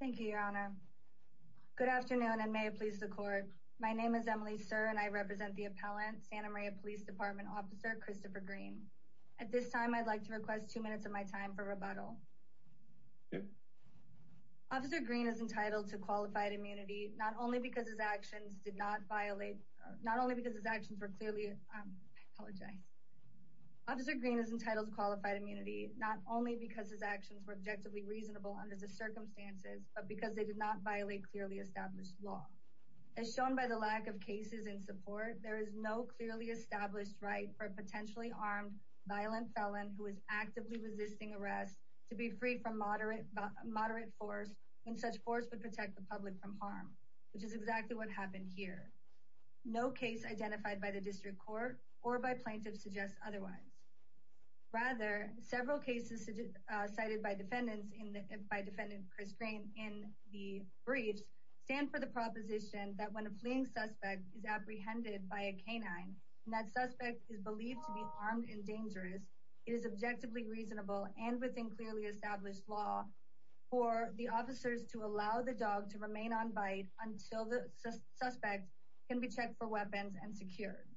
Thank you, Your Honor. Good afternoon and may it please the court. My name is Emily Sir and I represent the appellant, Santa Maria Police Dept. Officer Christopher Green. At this time, I'd like to request two minutes of my time for rebuttal. Officer Green is entitled to qualified immunity not only because his actions were clearly... I apologize. ...but because they did not violate clearly established law. As shown by the lack of cases in support, there is no clearly established right for a potentially armed violent felon... ...who is actively resisting arrest to be free from moderate force when such force would protect the public from harm. Which is exactly what happened here. No case identified by the district court or by plaintiffs suggests otherwise. Rather, several cases cited by defendant Chris Green in the briefs stand for the proposition... ...that when a fleeing suspect is apprehended by a canine and that suspect is believed to be armed and dangerous... ...it is objectively reasonable and within clearly established law for the officers to allow the dog to remain on bite... ...until the suspect can be checked for weapons and secured.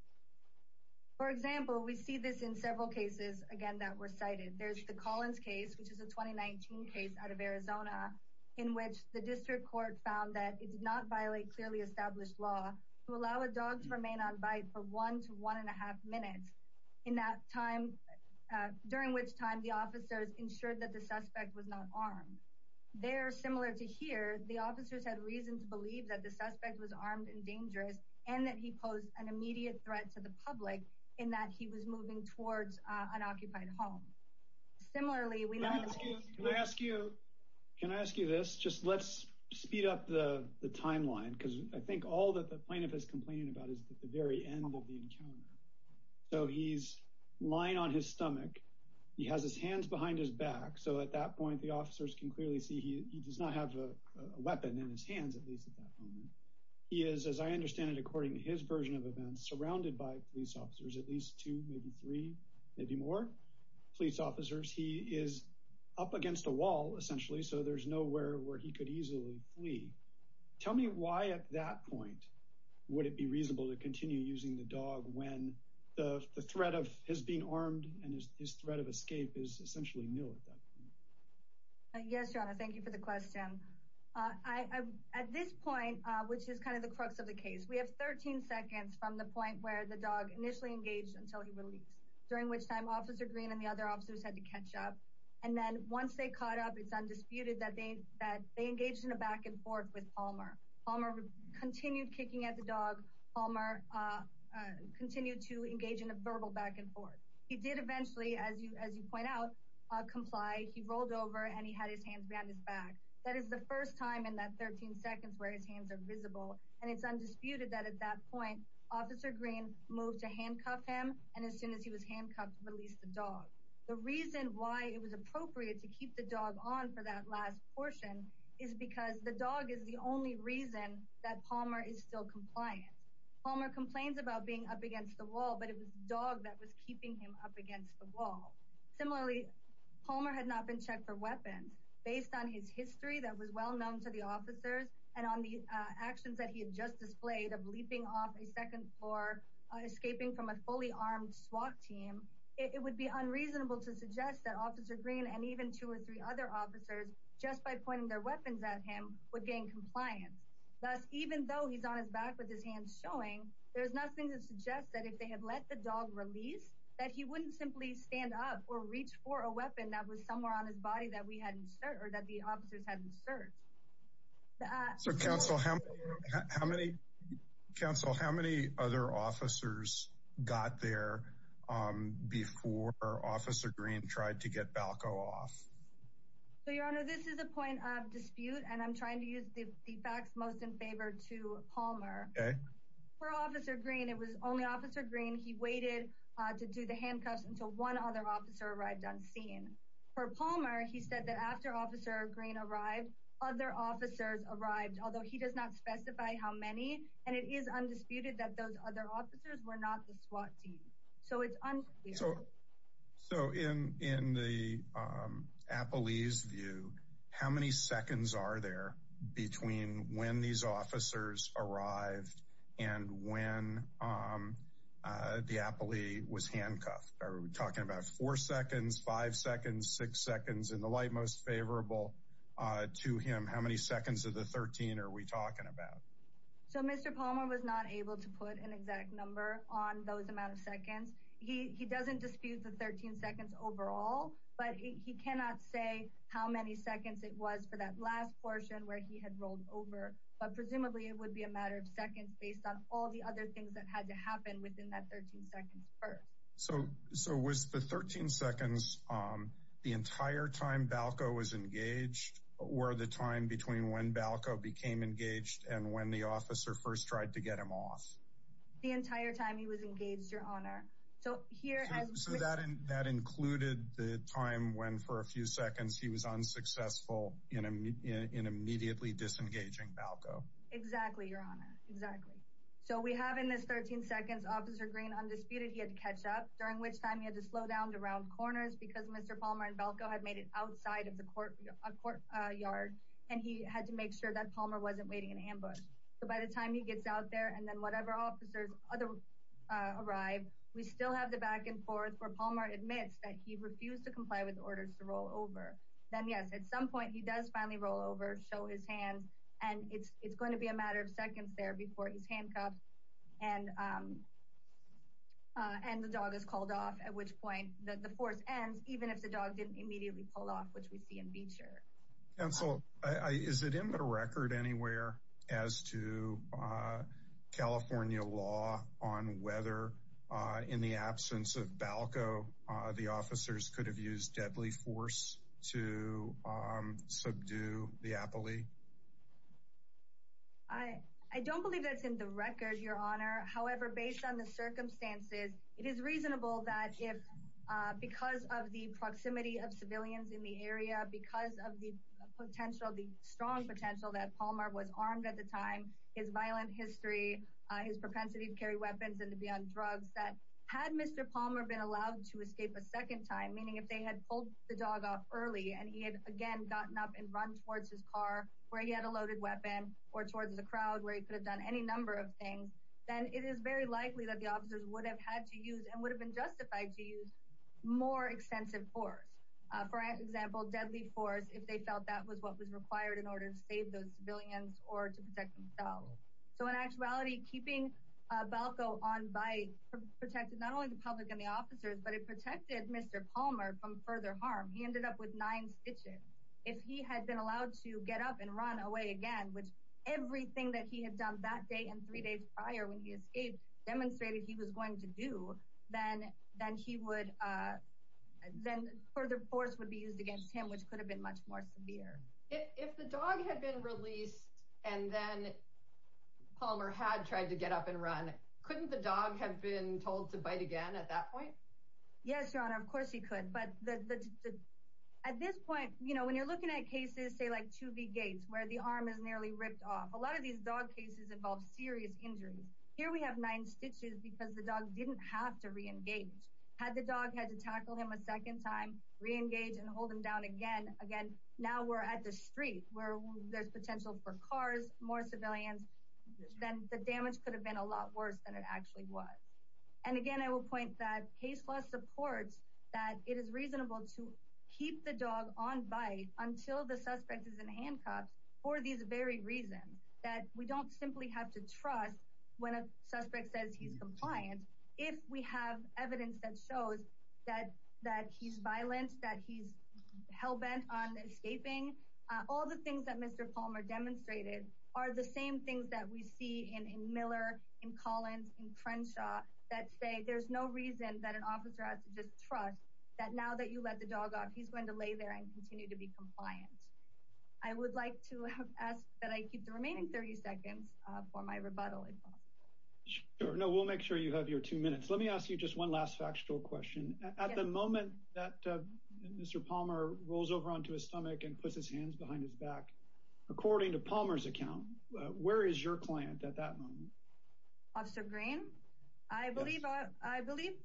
For example, we see this in several cases, again, that were cited. There's the Collins case, which is a 2019 case out of Arizona... ...in which the district court found that it did not violate clearly established law... ...to allow a dog to remain on bite for one to one and a half minutes... ...during which time the officers ensured that the suspect was not armed. There, similar to here, the officers had reason to believe that the suspect was armed and dangerous... ...and that he posed an immediate threat to the public in that he was moving towards an occupied home. Similarly, we know that... Can I ask you this? Just let's speed up the timeline... ...because I think all that the plaintiff is complaining about is the very end of the encounter. So he's lying on his stomach. He has his hands behind his back. So at that point, the officers can clearly see he does not have a weapon in his hands, at least at that moment. He is, as I understand it, according to his version of events, surrounded by police officers... ...at least two, maybe three, maybe more police officers. He is up against a wall, essentially, so there's nowhere where he could easily flee. Tell me why at that point would it be reasonable to continue using the dog... ...when the threat of his being armed and his threat of escape is essentially nil at that point. Yes, John, thank you for the question. At this point, which is kind of the crux of the case... ...we have 13 seconds from the point where the dog initially engaged until he released... ...during which time Officer Green and the other officers had to catch up. And then once they caught up, it's undisputed that they engaged in a back-and-forth with Palmer. Palmer continued kicking at the dog. Palmer continued to engage in a verbal back-and-forth. He did eventually, as you point out, comply. He rolled over and he had his hands behind his back. That is the first time in that 13 seconds where his hands are visible. And it's undisputed that at that point, Officer Green moved to handcuff him... ...and as soon as he was handcuffed, released the dog. The reason why it was appropriate to keep the dog on for that last portion... ...is because the dog is the only reason that Palmer is still compliant. Palmer complains about being up against the wall, but it was the dog that was keeping him up against the wall. Similarly, Palmer had not been checked for weapons. Based on his history that was well known to the officers... ...and on the actions that he had just displayed of leaping off a second floor... ...escaping from a fully armed SWAT team... ...it would be unreasonable to suggest that Officer Green and even two or three other officers... ...just by pointing their weapons at him, would gain compliance. Thus, even though he's on his back with his hands showing... ...there's nothing to suggest that if they had let the dog release... ...that he wouldn't simply stand up or reach for a weapon that was somewhere on his body... ...that we hadn't searched or that the officers hadn't searched. So, Counsel, how many other officers got there before Officer Green tried to get Balco off? So, Your Honor, this is a point of dispute, and I'm trying to use the facts most in favor to Palmer. Okay. For Officer Green, it was only Officer Green. He waited to do the handcuffs until one other officer arrived on scene. For Palmer, he said that after Officer Green arrived, other officers arrived... ...although he does not specify how many. And it is undisputed that those other officers were not the SWAT team. So it's unclear. So in the appellee's view, how many seconds are there between when these officers arrived... ...and when the appellee was handcuffed? Are we talking about four seconds, five seconds, six seconds? In the light most favorable to him, how many seconds of the 13 are we talking about? So Mr. Palmer was not able to put an exact number on those amount of seconds. He doesn't dispute the 13 seconds overall. But he cannot say how many seconds it was for that last portion where he had rolled over. But presumably it would be a matter of seconds based on all the other things that had to happen within that 13 seconds. So was the 13 seconds the entire time Balco was engaged... ...or the time between when Balco became engaged and when the officer first tried to get him off? The entire time he was engaged, Your Honor. So that included the time when for a few seconds he was unsuccessful in immediately disengaging Balco? Exactly, Your Honor. Exactly. So we have in this 13 seconds Officer Green undisputed. He had to catch up, during which time he had to slow down to round corners... ...because Mr. Palmer and Balco had made it outside of the courtyard. And he had to make sure that Palmer wasn't waiting in ambush. So by the time he gets out there and then whatever officers arrive... ...we still have the back and forth where Palmer admits that he refused to comply with orders to roll over. Then, yes, at some point he does finally roll over, show his hands... ...and it's going to be a matter of seconds there before he's handcuffed and the dog is called off... ...at which point the force ends, even if the dog didn't immediately pull off, which we see in Beecher. Counsel, is it in the record anywhere as to California law on whether, in the absence of Balco... ...the officers could have used deadly force to subdue the Appley? I don't believe that's in the record, Your Honor. However, based on the circumstances, it is reasonable that because of the proximity of civilians in the area... ...because of the potential, the strong potential that Palmer was armed at the time, his violent history... ...his propensity to carry weapons and to be on drugs, that had Mr. Palmer been allowed to escape a second time... ...meaning if they had pulled the dog off early and he had again gotten up and run towards his car where he had a loaded weapon... ...or towards the crowd where he could have done any number of things... ...then it is very likely that the officers would have had to use and would have been justified to use more extensive force. For example, deadly force, if they felt that was what was required in order to save those civilians or to protect themselves. So in actuality, keeping Balco on by protected not only the public and the officers, but it protected Mr. Palmer from further harm. He ended up with nine stitches. If he had been allowed to get up and run away again, which everything that he had done that day and three days prior when he escaped... ...demonstrated he was going to do, then further force would be used against him, which could have been much more severe. If the dog had been released and then Palmer had tried to get up and run, couldn't the dog have been told to bite again at that point? Yes, Your Honor, of course he could. But at this point, when you're looking at cases, say like 2B Gates, where the arm is nearly ripped off, a lot of these dog cases involve serious injuries. Here we have nine stitches because the dog didn't have to re-engage. Had the dog had to tackle him a second time, re-engage and hold him down again, now we're at the street where there's potential for cars, more civilians... ...then the damage could have been a lot worse than it actually was. And again, I will point that case law supports that it is reasonable to keep the dog on by until the suspect is in handcuffs for these very reasons. That we don't simply have to trust when a suspect says he's compliant. If we have evidence that shows that he's violent, that he's hell-bent on escaping... ...all the things that Mr. Palmer demonstrated are the same things that we see in Miller, in Collins, in Crenshaw... ...that say there's no reason that an officer has to just trust that now that you let the dog off, he's going to lay there and continue to be compliant. I would like to ask that I keep the remaining 30 seconds for my rebuttal, if possible. Sure. No, we'll make sure you have your two minutes. Let me ask you just one last factual question. At the moment that Mr. Palmer rolls over onto his stomach and puts his hands behind his back... ...according to Palmer's account, where is your client at that moment? Officer Green? I believe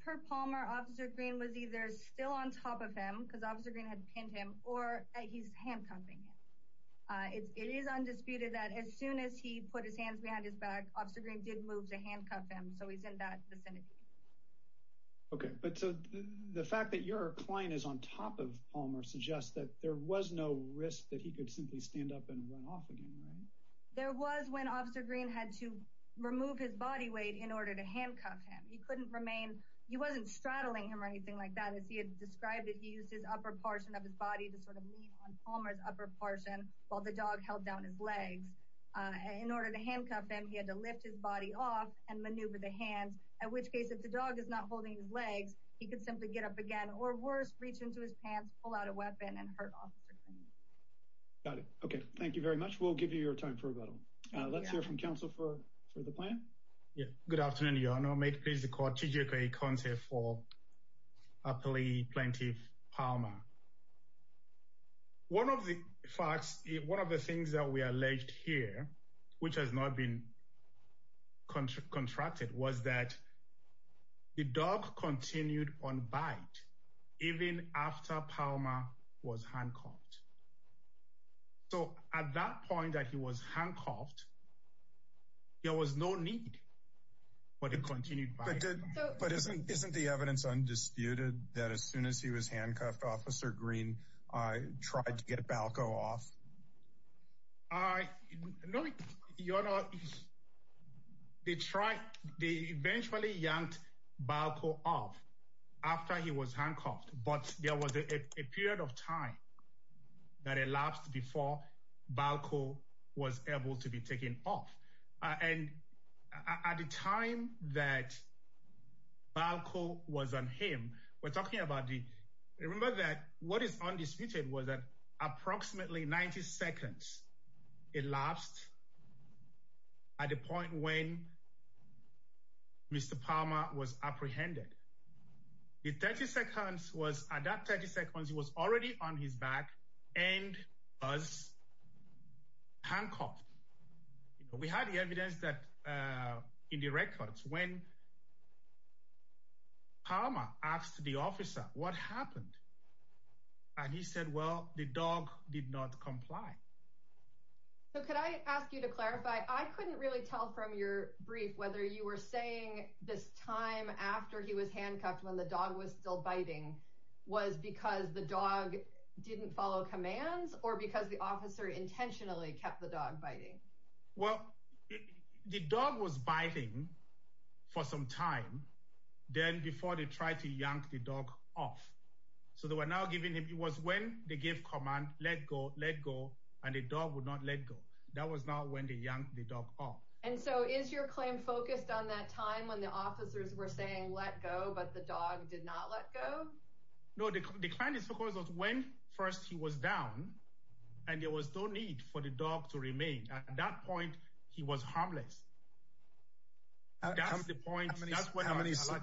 per Palmer, Officer Green was either still on top of him, because Officer Green had pinned him, or he's handcuffing him. It is undisputed that as soon as he put his hands behind his back, Officer Green did move to handcuff him, so he's in that vicinity. Okay, but the fact that your client is on top of Palmer suggests that there was no risk that he could simply stand up and run off again, right? There was when Officer Green had to remove his body weight in order to handcuff him. He couldn't remain...he wasn't straddling him or anything like that. As he had described it, he used his upper portion of his body to sort of lean on Palmer's upper portion while the dog held down his legs. In order to handcuff him, he had to lift his body off and maneuver the hands, at which case if the dog is not holding his legs, he could simply get up again. Or worse, reach into his pants, pull out a weapon, and hurt Officer Green. Got it. Okay, thank you very much. We'll give you your time for rebuttal. Let's hear from Council for the plan. Good afternoon, Your Honour. May it please the Court, T.J. Kaye-Konce for Appellee Plaintiff Palmer. One of the facts, one of the things that we alleged here, which has not been contracted, was that the dog continued on bite even after Palmer was handcuffed. So at that point that he was handcuffed, there was no need for the continued bite. But isn't the evidence undisputed that as soon as he was handcuffed, Officer Green tried to get Balco off? No, Your Honour. They eventually yanked Balco off after he was handcuffed, but there was a period of time that elapsed before Balco was able to be taken off. At the time that Balco was on him, what is undisputed is that approximately 90 seconds elapsed at the point when Mr. Palmer was apprehended. At that 30 seconds, he was already on his back and was handcuffed. We had the evidence in the records when Palmer asked the officer what happened, and he said, well, the dog did not comply. So could I ask you to clarify, I couldn't really tell from your brief whether you were saying this time after he was handcuffed, when the dog was still biting, was because the dog didn't follow commands or because the officer intentionally kept the dog biting? Well, the dog was biting for some time, then before they tried to yank the dog off. So they were now giving him, it was when they gave command, let go, let go, and the dog would not let go. That was not when they yanked the dog off. And so is your claim focused on that time when the officers were saying let go, but the dog did not let go? No, the claim is focused on when first he was down, and there was no need for the dog to remain. At that point, he was harmless. That's the point. Sorry. How many seconds?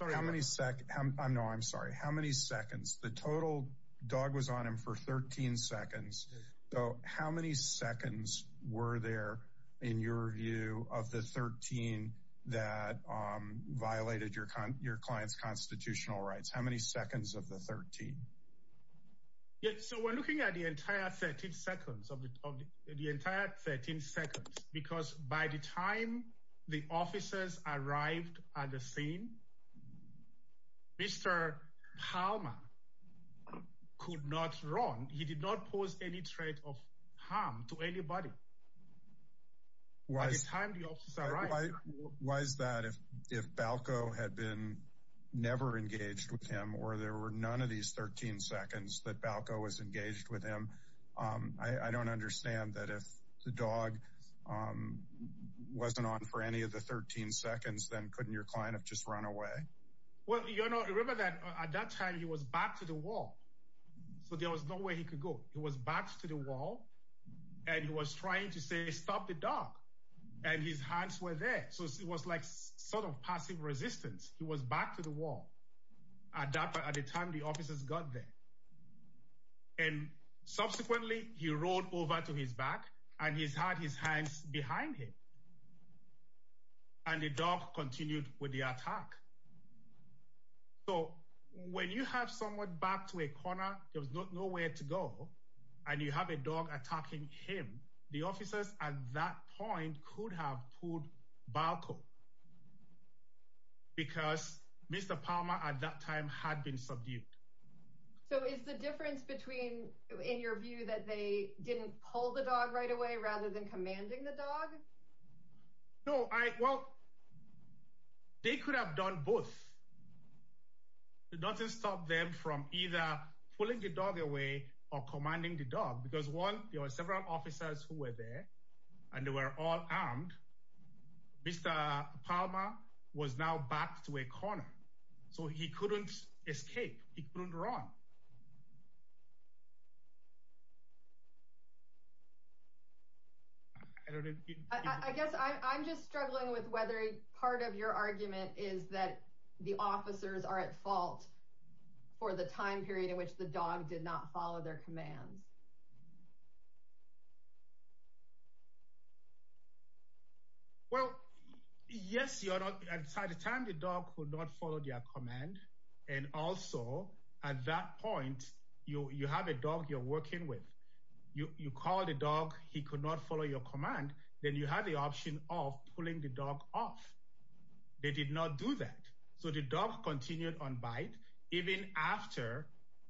No, I'm sorry. How many seconds? The total dog was on him for 13 seconds. So how many seconds were there, in your view, of the 13 that violated your client's constitutional rights? How many seconds of the 13? So we're looking at the entire 13 seconds, because by the time the officers arrived at the scene, Mr. Palmer could not run. He did not pose any threat of harm to anybody. By the time the officers arrived... Why is that? If Balco had been never engaged with him, or there were none of these 13 seconds that Balco was engaged with him, I don't understand that if the dog wasn't on for any of the 13 seconds, then couldn't your client have just run away? Well, you know, remember that at that time, he was back to the wall. So there was no way he could go. He was back to the wall, and he was trying to say, stop the dog. And his hands were there. So it was like sort of passive resistance. He was back to the wall at the time the officers got there. And subsequently, he rolled over to his back, and he's had his hands behind him. And the dog continued with the attack. So when you have someone back to a corner, there was nowhere to go, and you have a dog attacking him, the officers at that point could have pulled Balco, because Mr. Palmer at that time had been subdued. So is the difference between, in your view, that they didn't pull the dog right away rather than commanding the dog? No, well, they could have done both. It doesn't stop them from either pulling the dog away or commanding the dog, because one, there were several officers who were there, and they were all armed. Mr. Palmer was now back to a corner. So he couldn't escape. He couldn't run. I guess I'm just struggling with whether part of your argument is that the officers are at fault for the time period in which the dog did not follow their commands. Well, yes, at the time the dog could not follow their command. And also, at that point, you have a dog you're working with. You call the dog, he could not follow your command, then you have the option of pulling the dog off. They did not do that. So the dog continued on bite, even after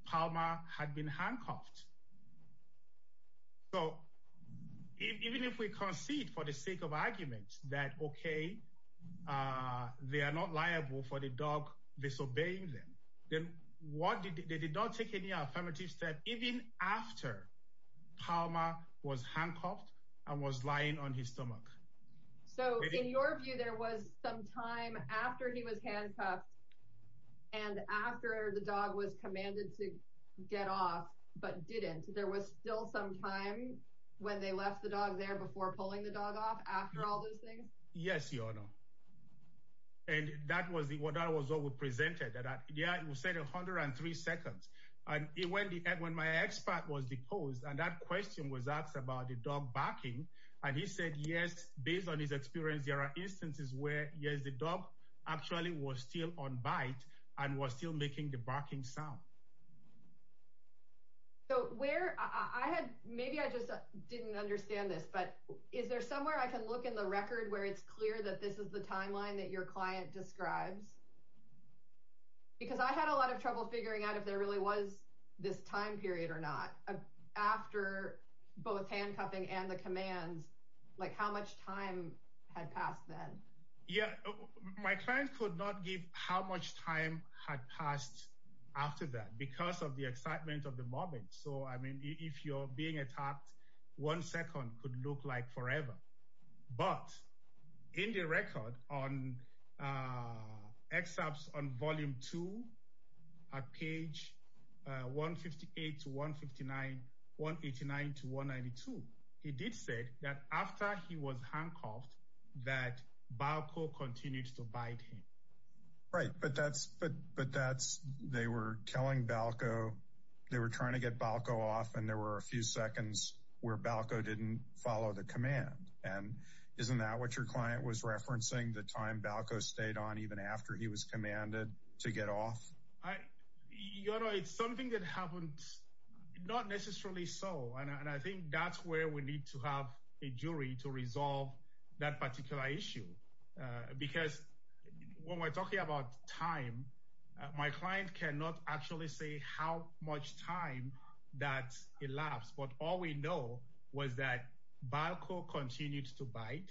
Palmer had been handcuffed. So even if we concede for the sake of argument that, OK, they are not liable for the dog disobeying them, then what did they did not take any affirmative step even after Palmer was handcuffed and was lying on his stomach? So in your view, there was some time after he was handcuffed and after the dog was commanded to get off, but didn't there was still some time when they left the dog there before pulling the dog off after all those things? Yes, your honor. And that was what I was always presented that, yeah, you said a hundred and three seconds. And when my expat was deposed and that question was asked about the dog barking and he said, yes, based on his experience, there are instances where, yes, the dog actually was still on bite and was still making the barking sound. So where I had maybe I just didn't understand this, but is there somewhere I can look in the record where it's clear that this is the timeline that your client describes? Because I had a lot of trouble figuring out if there really was this time period or not after both handcuffing and the commands, like how much time had passed then. Yeah, my client could not give how much time had passed after that because of the excitement of the moment. So, I mean, if you're being attacked, one second could look like forever. But in the record on excerpts on volume two, page 158 to 159, 189 to 192, it did say that after he was handcuffed, that Balco continued to bite him. Right, but that's but but that's they were telling Balco they were trying to get Balco off and there were a few seconds where Balco didn't follow the command. And isn't that what your client was referencing the time Balco stayed on even after he was commanded to get off? I, you know, it's something that happened, not necessarily so. And I think that's where we need to have a jury to resolve that particular issue. Because when we're talking about time, my client cannot actually say how much time that elapsed. But all we know was that Balco continued to bite.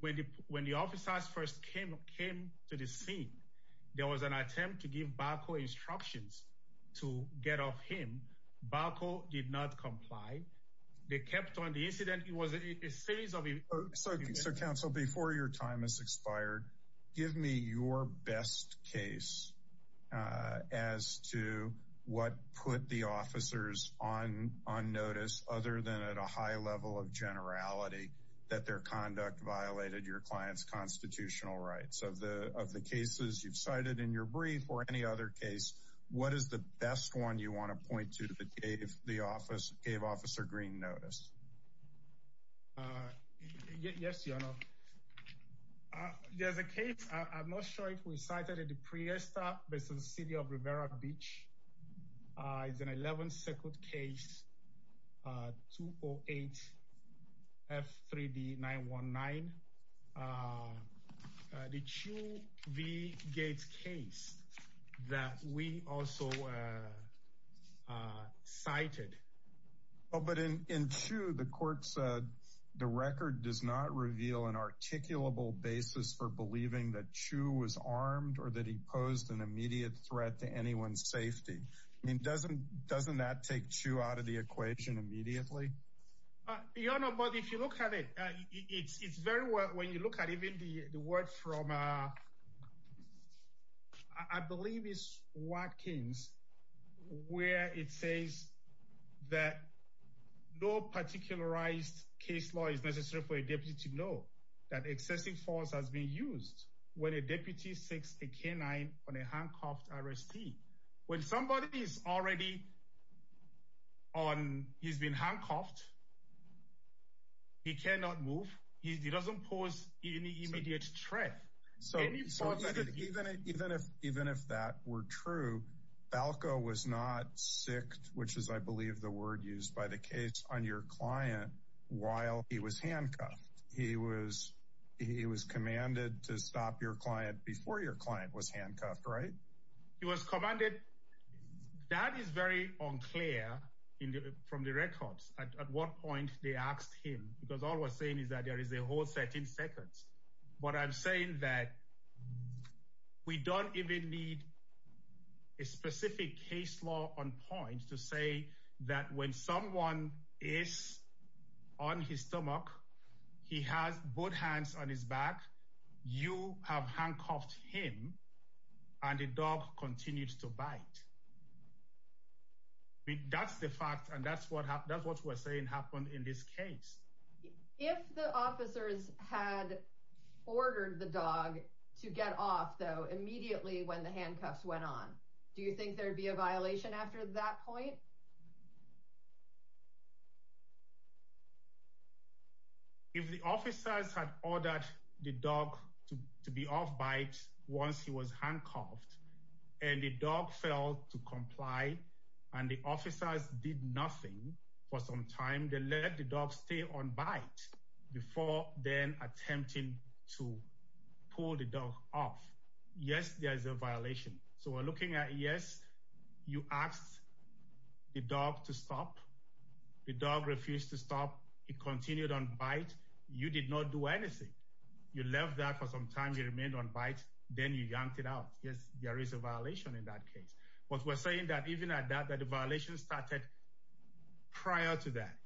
When when the officers first came came to the scene, there was an attempt to give Balco instructions to get off him. Balco did not comply. They kept on the incident. It was a series of. So so council before your time has expired, give me your best case as to what put the officers on on notice other than at a high level of generality that their conduct violated your client's constitutional rights of the of the cases you've cited in your brief or any other case. What is the best one you want to point to that gave the office gave Officer Green notice? Yes, you know, there's a case. I'm not sure if we cited it. The Prius stop based on the city of Rivera Beach is an 11 second case. But in in two, the court said the record does not reveal an articulable basis for believing that Chu was armed or that he posed an immediate threat to anyone's safety. I mean, doesn't doesn't that take two out of the equation immediately? You know, but if you look at it, it's very well when you look at even the word from I believe is Watkins, where it says that no particularized case law is necessary for a deputy to know that excessive force has been used when a deputy six, a canine on a handcuffed arrestee. When somebody is already on, he's been handcuffed. He cannot move. He doesn't pose any immediate threat. So even if even if even if that were true, Falco was not sick, which is, I believe, the word used by the case on your client while he was handcuffed. He was he was commanded to stop your client before your client was handcuffed, right? He was commanded. That is very unclear from the records. At what point they asked him, because all we're saying is that there is a whole set in seconds. But I'm saying that we don't even need a specific case law on point to say that when someone is on his stomach, he has both hands on his back. You have handcuffed him and the dog continues to bite. That's the fact. And that's what that's what we're saying happened in this case. If the officers had ordered the dog to get off, though, immediately when the handcuffs went on, do you think there would be a violation after that point? If the officers had ordered the dog to be off by once he was handcuffed and the dog failed to comply and the officers did nothing for some time, they let the dog stay on by before then attempting to pull the dog off. Yes, there's a violation. So we're looking at. Yes, you asked the dog to stop. The dog refused to stop. He continued on bite. You did not do anything. You left that for some time. You remained on bite. Then you yanked it out. Yes, there is a violation in that case. But we're saying that even at that, that the violation started prior to that,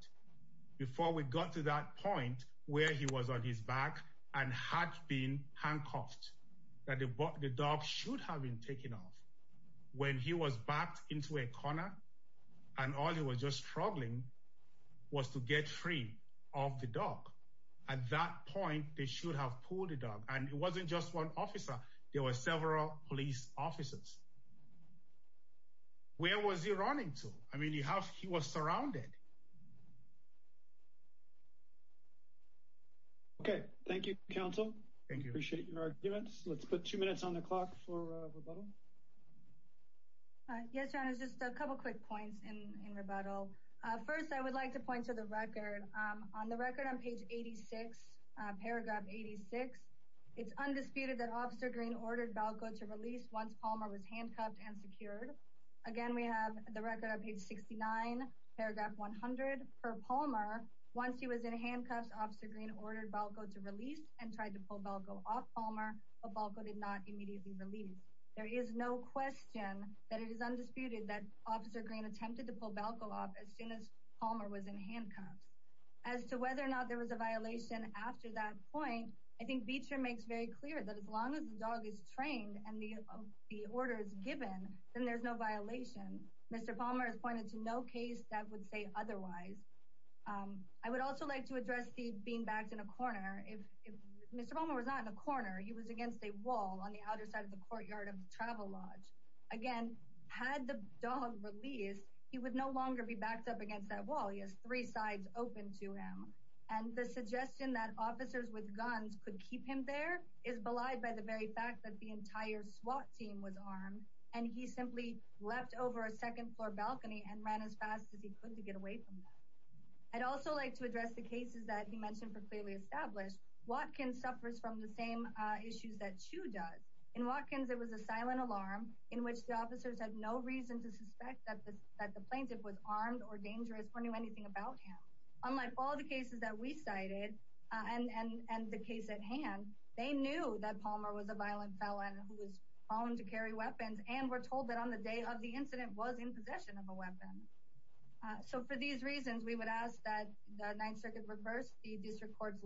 before we got to that point where he was on his back and had been handcuffed, that the dog should have been taken off when he was backed into a corner and all he was just struggling was to get free of the dog. At that point, they should have pulled the dog. And it wasn't just one officer. There were several police officers. Where was he running to? I mean, you have he was surrounded. Yes, there is a violation in that case. There is no question that it is undisputed that Officer Green attempted to pull Balco off as soon as Palmer was in handcuffs. As to whether or not there was a violation after that point, I think Beecher makes very clear that as long as the dog is trained and the orders given, then there's no violation. Mr. Palmer has pointed to no case that would say otherwise. I would also like to address the being backed in a corner. If Mr. Palmer was not in a corner, he was against a wall on the outer side of the courtyard of the travel lodge. Again, had the dog released, he would no longer be backed up against that wall. He has three sides open to him. And the suggestion that officers with guns could keep him there is belied by the very fact that the entire SWAT team was armed and he simply leapt over a second floor balcony and ran as fast as he could to get away from that. I'd also like to address the cases that he mentioned were clearly established. Watkins suffers from the same issues that Chu does. In Watkins, there was a silent alarm in which the officers had no reason to suspect that the plaintiff was armed or dangerous or knew anything about him. Unlike all the cases that we cited and the case at hand, they knew that Palmer was a violent felon who was found to carry weapons and were told that on the day of the incident was in possession of a weapon. So for these reasons, we would ask that the 9th Circuit reverse the district court's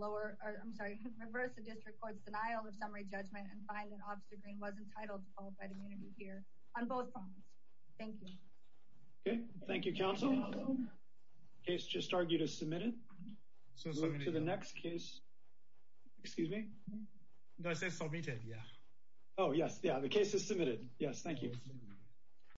denial of summary judgment and find that Officer Green was entitled to qualified immunity here on both fronts. Thank you. Thank you, counsel. It's just argue to submit it to the next case. Excuse me. Oh, yes. Yeah. The case is submitted. Yes. Thank you.